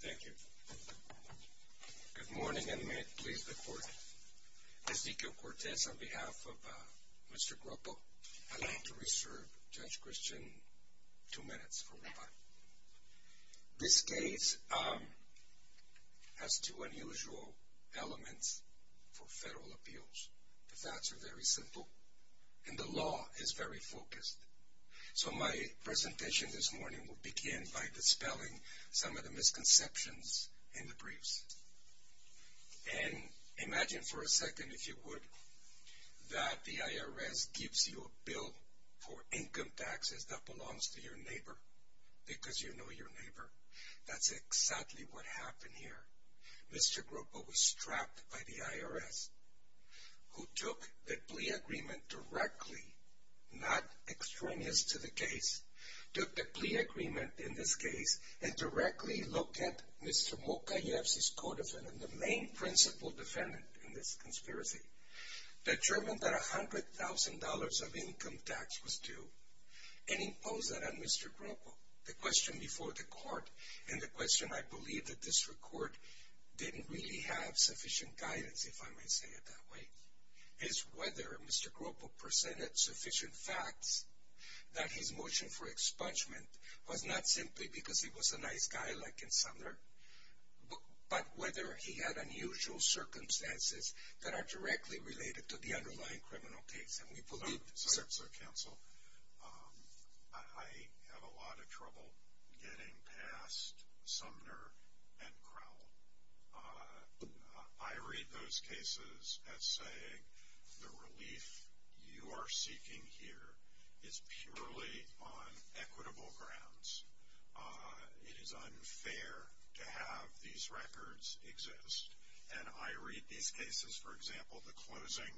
Thank you. Good morning and may it please the court. Ezequiel Cortez on behalf of Mr. Groppo. I'd like to reserve Judge Christian two minutes for rebut. This case has two unusual elements for federal appeals. The facts are very simple and the law is very focused. So my presentation this morning will begin by dispelling some of the misconceptions in the briefs. And imagine for a second, if you would, that the IRS gives you a bill for income taxes that belongs to your neighbor because you know your neighbor. That's exactly what happened here. Mr. Groppo was strapped by the IRS, who took the plea agreement directly, not extraneous to the case, took the plea agreement in this case and directly looked at Mr. Mokayev's codefendant, the main principal defendant in this conspiracy, determined that $100,000 of income tax was due and imposed that on Mr. Groppo. The question before the court and the question I believe the district court didn't really have sufficient guidance, if I may say it that way, is whether Mr. Groppo presented sufficient facts that his motion for expungement was not simply because he was a nice guy like Insomniac, but whether he had unusual circumstances that are directly related to the underlying criminal case. And we believe... Sir, counsel, I have a lot of trouble getting past Sumner and Crowell. I read those cases as saying the relief you are seeking here is purely on equitable grounds. It is unfair to have these records exist. And I read these cases, for example, the closing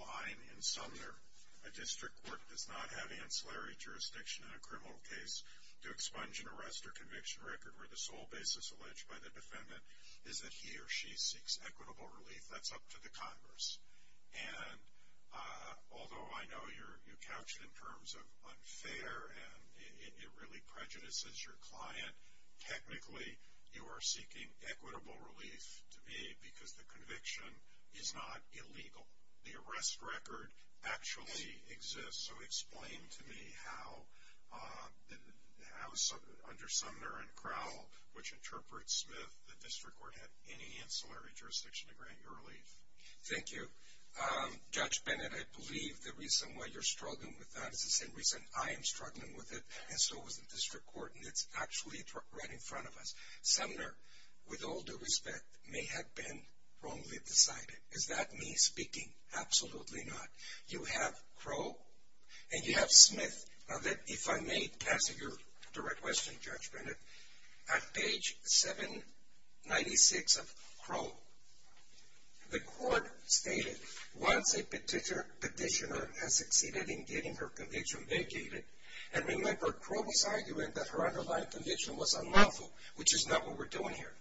line in Sumner. A district court does not have ancillary jurisdiction in a criminal case to expunge an arrest or conviction record where the sole basis alleged by the defendant is that he or she seeks equitable relief. That's up to the Congress. And although I know you couch it in terms of unfair and it really prejudices your client, technically you are seeking equitable relief to me because the conviction is not illegal. The arrest record actually exists. So explain to me how under Sumner and Crowell, which interprets Smith, the district court had any ancillary jurisdiction to grant you relief. Thank you. Judge Bennett, I believe the reason why you're struggling with that is the same reason I am struggling with it. And so is the district court. And it's actually right in front of us. Sumner, with all due respect, may have been wrongly decided. Is that me speaking? Absolutely not. You have Crowell and you have Smith. Now if I may answer your direct question, Judge Bennett, at page 796 of Crowell, the court stated once a petitioner has succeeded in getting her conviction vacated, and remember Crowell was arguing that her underlying conviction was unlawful, which is not what we're doing here.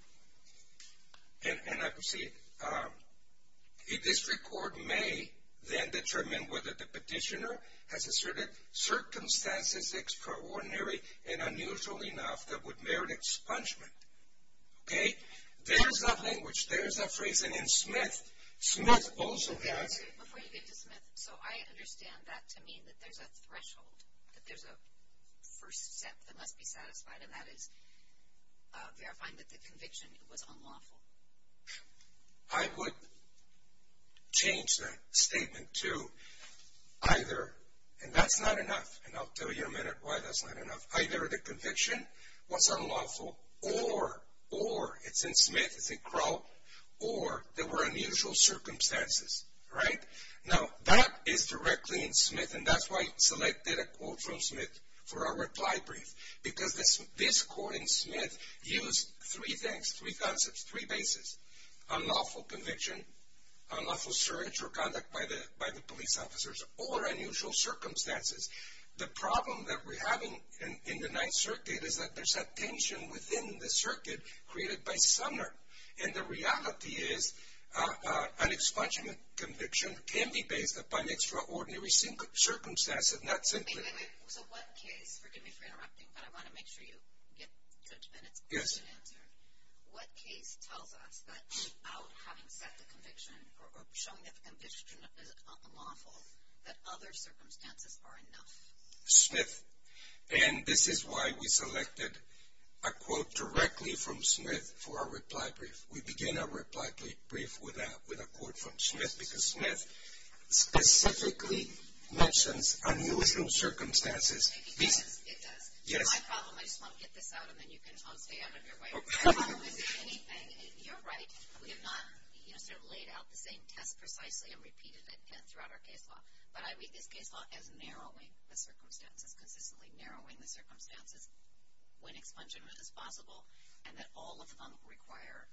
And I proceed. A district court may then determine whether the petitioner has asserted circumstances extraordinary and unusual enough that would merit expungement. Okay? There's a language, there's a phrase, and in Smith, Smith also has. Before you get to Smith, so I understand that to mean that there's a threshold, that there's a first step that must be satisfied, and that is verifying that the conviction was unlawful. I would change that statement to either, and that's not enough, and I'll tell you in a minute why that's not enough, either the conviction was unlawful or it's in Smith, it's in Crowell, or there were unusual circumstances. Right? Now that is directly in Smith, and that's why I selected a quote from Smith for our reply brief, because this court in Smith used three things, three concepts, three bases. Unlawful conviction, unlawful search or conduct by the police officers, or unusual circumstances. The problem that we're having in the Ninth Circuit is that there's a tension within the circuit created by Sumner, and the reality is an expungement conviction can be based upon extraordinary circumstances, not simply. Wait, wait, wait, so what case, forgive me for interrupting, but I want to make sure you get 30 minutes. Yes. What case tells us that without having set the conviction or showing that the conviction is unlawful, that other circumstances are enough? Smith, and this is why we selected a quote directly from Smith for our reply brief. We begin our reply brief with a quote from Smith, because Smith specifically mentions unusual circumstances. It does. It does. Yes. My problem, I just want to get this out, and then you can all stay out of your way. Okay. You're right. We have not sort of laid out the same test precisely and repeated it throughout our case law, but I read this case law as narrowing the circumstances, consistently narrowing the circumstances, when expungement is possible, and that all of them require,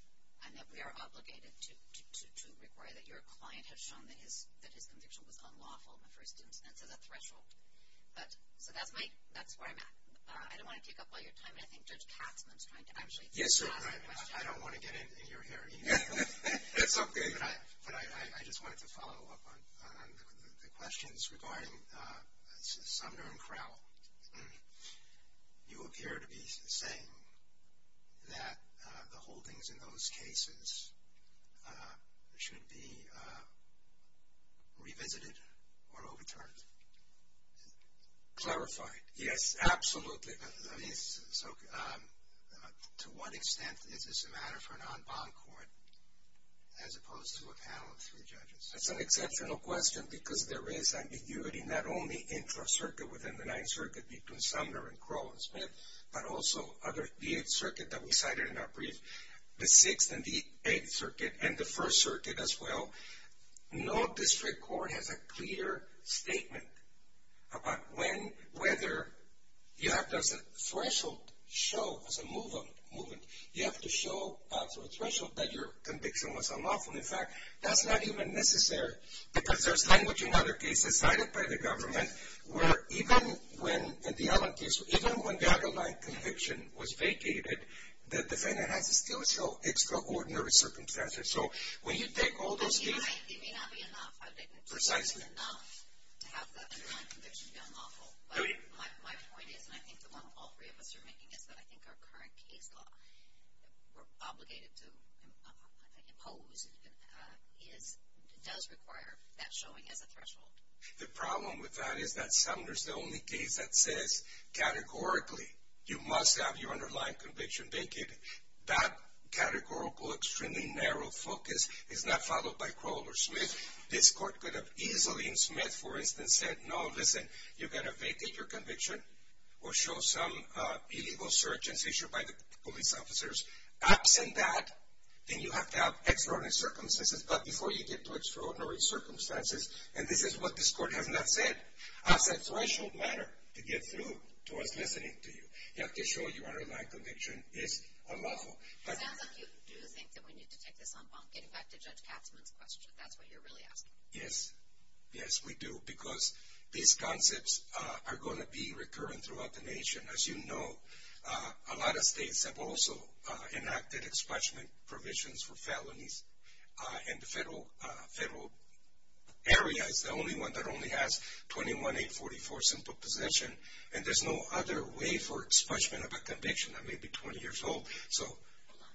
and that we are obligated to require, that your client has shown that his conviction was unlawful in the first instance as a threshold. So that's where I'm at. I don't want to take up all your time, and I think Judge Katzman is trying to actually ask the question. Yes, you're right. I don't want to get in your hair. That's okay. David, I just wanted to follow up on the questions regarding Sumner and Crowell. You appear to be saying that the holdings in those cases should be revisited or overturned. Clarify. Yes, absolutely. So to what extent is this a matter for a non-bond court as opposed to a panel of three judges? That's an exceptional question because there is ambiguity, not only intra-circuit within the 9th Circuit between Sumner and Crowell and Smith, but also other, the 8th Circuit that we cited in our brief, the 6th and the 8th Circuit, and the 1st Circuit as well. No district court has a clear statement about when, whether, you have to as a threshold show, as a movement, you have to show through a threshold that your conviction was unlawful. In fact, that's not even necessary because there's language in other cases cited by the government where even when the other line conviction was vacated, the defendant has still extraordinary circumstances. So when you take all those cases. It may not be enough. Precisely. It may not be enough to have the underlying conviction be unlawful. But my point is, and I think the one all three of us are making is that I think our current case law we're obligated to impose does require that showing as a threshold. The problem with that is that Sumner's the only case that says categorically you must have your underlying conviction vacated. That categorical, extremely narrow focus is not followed by Crowell or Smith. This court could have easily in Smith, for instance, said, no, listen, you're going to vacate your conviction or show some illegal search and seizure by the police officers. Absent that, then you have to have extraordinary circumstances. But before you get to extraordinary circumstances, and this is what this court has not said, as a threshold matter to get through to us listening to you, you have to show your underlying conviction is unlawful. It sounds like you do think that we need to take this on bond, getting back to Judge Katzmann's question. That's what you're really asking. Yes. Yes, we do. Because these concepts are going to be recurrent throughout the nation. As you know, a lot of states have also enacted expungement provisions for felonies. And the federal area is the only one that only has 21-844 simple possession. And there's no other way for expungement of a conviction that may be 20 years old. Hold on.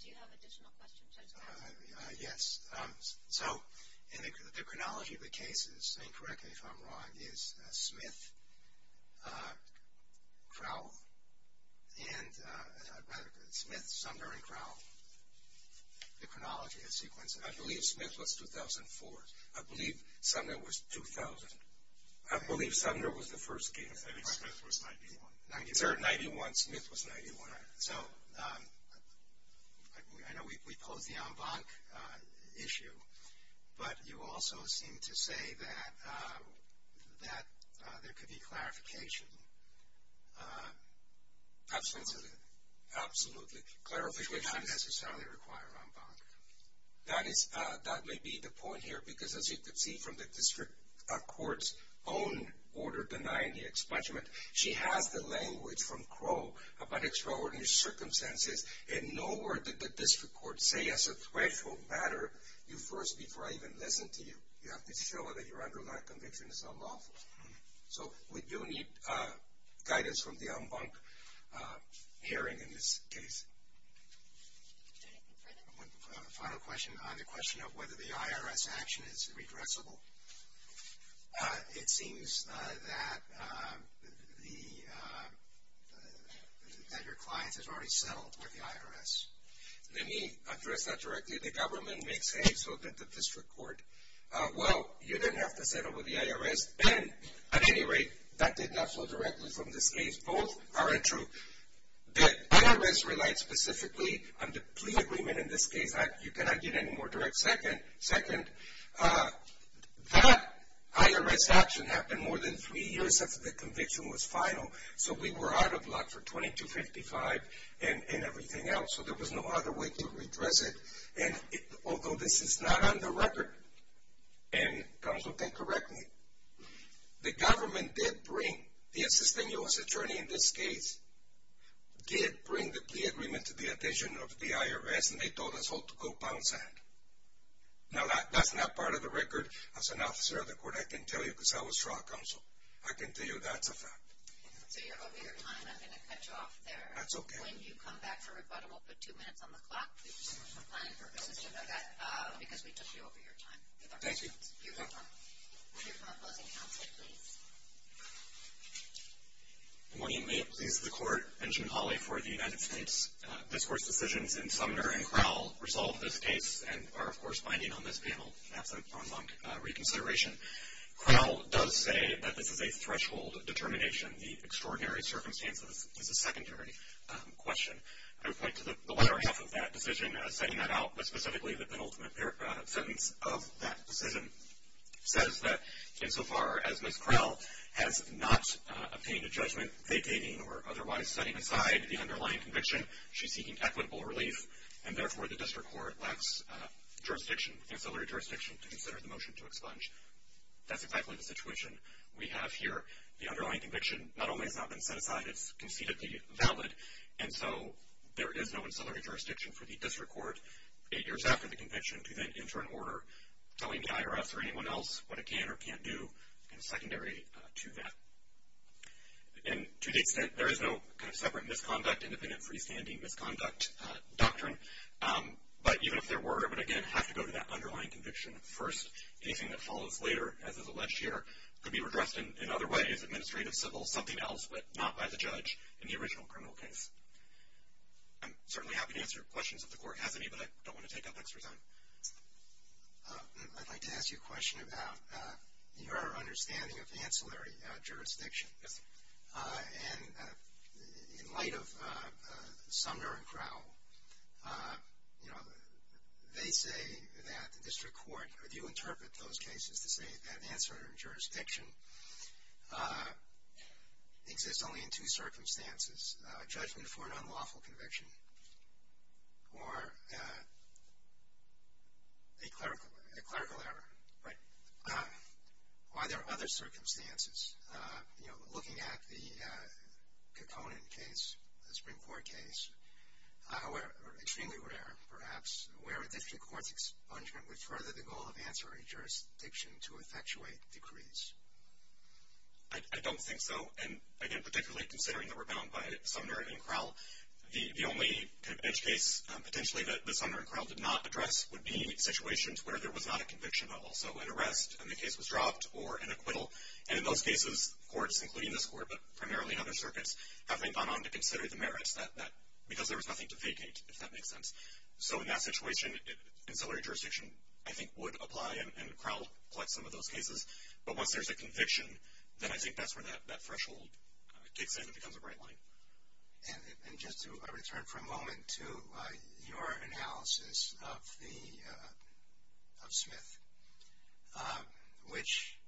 Do you have additional questions, Judge Katzmann? Yes. So the chronology of the cases, if I'm correct, if I'm wrong, is Smith, Sumner, and Crowell. The chronology is sequenced. I believe Smith was 2004. I believe Sumner was 2000. I believe Sumner was the first case. I think Smith was 91. Sir, 91. Smith was 91. So I know we posed the en banc issue, but you also seem to say that there could be clarification. Absolutely. Absolutely. Clarification would not necessarily require en banc. That may be the point here, because as you can see from the district court's own order denying the expungement, she has the language from Crowell about extraordinary circumstances, and nowhere did the district court say as a threshold matter, you first, before I even listen to you, you have to show that your underlying conviction is unlawful. So we do need guidance from the en banc hearing in this case. One final question on the question of whether the IRS action is redressable. It seems that your client has already settled with the IRS. Let me address that directly. The government may say so did the district court. Well, you didn't have to settle with the IRS. Then, at any rate, that did not flow directly from this case. Both are untrue. The IRS relied specifically on the plea agreement in this case. You cannot get any more direct second. Second, that IRS action happened more than three years after the conviction was final, so we were out of luck for 2255 and everything else, so there was no other way to redress it. And although this is not on the record, and counsel can correct me, the government did bring, the insisting U.S. attorney in this case, did bring the plea agreement to the attention of the IRS, and they told us all to go pound sand. Now, that's not part of the record. As an officer of the court, I can tell you because I was trial counsel. I can tell you that's a fact. So you're over your time. I'm going to cut you off there. That's okay. When you come back for rebuttal, we'll put two minutes on the clock, because we took you over your time. Thank you. You have five minutes. You have five minutes on counsel, please. Good morning. May it please the Court. Benjamin Hawley for the United States. Discourse decisions in Sumner and Crowell resolve this case and are, of course, binding on this panel. That's a pronged reconsideration. Crowell does say that this is a threshold determination. The extraordinary circumstances is a secondary question. I would point to the latter half of that decision, setting that out, but specifically the penultimate sentence of that decision, says that insofar as Ms. Crowell has not obtained a judgment vacating or otherwise setting aside the underlying conviction, she's seeking equitable relief, and therefore the district court lacks jurisdiction, ancillary jurisdiction to consider the motion to expunge. That's exactly the situation we have here. The underlying conviction not only has not been set aside, it's concededly valid, and so there is no ancillary jurisdiction for the district court eight years after the conviction to then enter an order telling the IRS or anyone else what it can or can't do, secondary to that. And to the extent there is no kind of separate misconduct, independent freestanding misconduct doctrine, but even if there were, it would, again, have to go to that underlying conviction first. Anything that follows later, as is alleged here, could be redressed in other ways, administrative, civil, something else, but not by the judge in the original criminal case. I'm certainly happy to answer questions if the court has any, but I don't want to take up extra time. I'd like to ask you a question about your understanding of ancillary jurisdiction. Yes. And in light of Sumner and Crowell, you know, they say that the district court, or do you interpret those cases to say that ancillary jurisdiction exists only in two circumstances, a judgment for an unlawful conviction or a clerical error? Right. Or are there other circumstances? You know, looking at the Kokonin case, the Supreme Court case, or extremely rare, perhaps, where a district court's expungement would further the goal of ancillary jurisdiction to effectuate decrees? I don't think so. And, again, particularly considering that we're bound by Sumner and Crowell, the only kind of edge case potentially that Sumner and Crowell did not address would be situations where there was not a conviction, but also an arrest, and the case was dropped, or an acquittal. And in those cases, courts, including this court, but primarily in other circuits, have gone on to consider the merits because there was nothing to vacate, if that makes sense. So in that situation, ancillary jurisdiction, I think, would apply, and Crowell collects some of those cases. But once there's a conviction, then I think that's where that threshold kicks in and becomes a bright line. And just to return for a moment to your analysis of Smith, which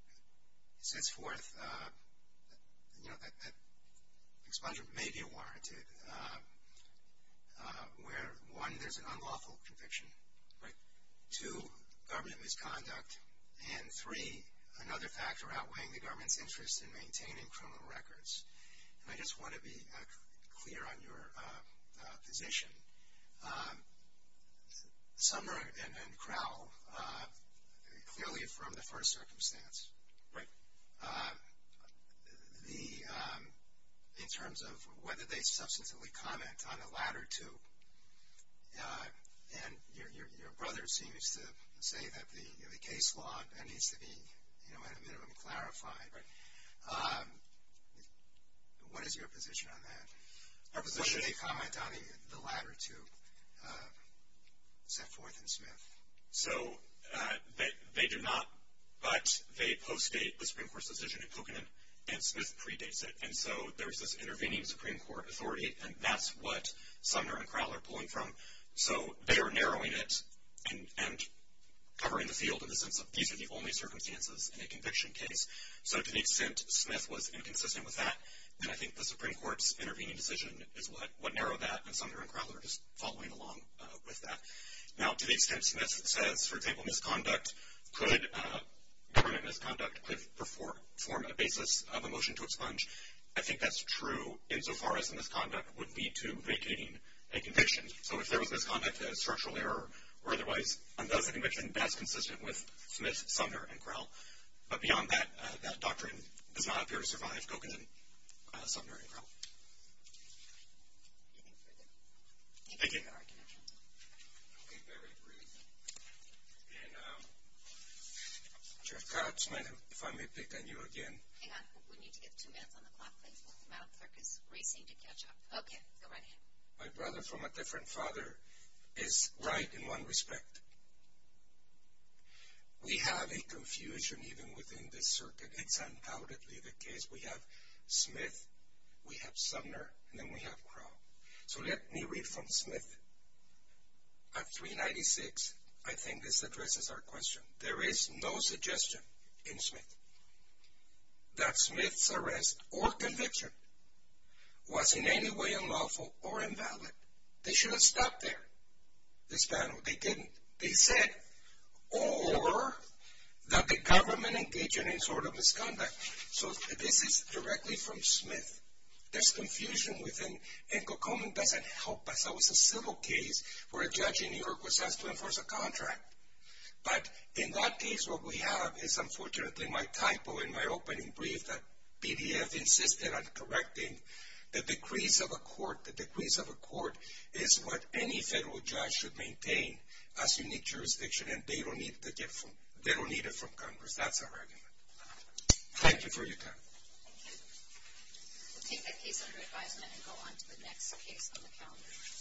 sets forth, you know, that expungement may be warranted where, one, there's an unlawful conviction. Right. Two, government misconduct. And three, another factor outweighing the government's interest in maintaining criminal records. And I just want to be clear on your position. Sumner and Crowell clearly affirmed the first circumstance. Right. In terms of whether they substantively comment on the latter two, and your brother seems to say that the case law needs to be, you know, at a minimum clarified. Right. What is your position on that? What should they comment on the latter two set forth in Smith? So they do not, but they post-date the Supreme Court's decision in Coconut, and Smith predates it. And so there's this intervening Supreme Court authority, and that's what Sumner and Crowell are pulling from. So they are narrowing it and covering the field in the sense of these are the only circumstances in a conviction case. So to the extent Smith was inconsistent with that, then I think the Supreme Court's intervening decision is what narrowed that, and Sumner and Crowell are just following along with that. Now, to the extent Smith says, for example, misconduct, could government misconduct form a basis of a motion to expunge, I think that's true insofar as the misconduct would lead to vacating a conviction. So if there was misconduct, a structural error or otherwise, does the conviction best consistent with Smith, Sumner, and Crowell? But beyond that, that doctrine does not appear to survive Coconut, Sumner, and Crowell. Anything further? Thank you. Thank you for your argument. Okay, very brief. And Judge Cox, ma'am, if I may pick on you again. Hang on. We need to get two minutes on the clock, please. We'll come out. Clerk is racing to catch up. Okay. Go right ahead. My brother from a different father is right in one respect. We have a confusion even within this circuit. It's undoubtedly the case. We have Smith, we have Sumner, and then we have Crowell. So let me read from Smith at 396. I think this addresses our question. There is no suggestion in Smith that Smith's arrest or conviction was in any way unlawful or invalid. They should have stopped there, this panel. They didn't. They said, or that the government engaged in any sort of misconduct. So this is directly from Smith. There's confusion within, and Kokomo doesn't help us. That was a civil case where a judge in New York was asked to enforce a contract. But in that case, what we have is unfortunately my typo in my opening brief that BDF insisted on correcting the decrees of a court. The decrees of a court is what any federal judge should maintain as unique jurisdiction, and they don't need it from Congress. That's our argument. Thank you for your time. Thank you. We'll take that case under advisement and go on to the next case on the calendar.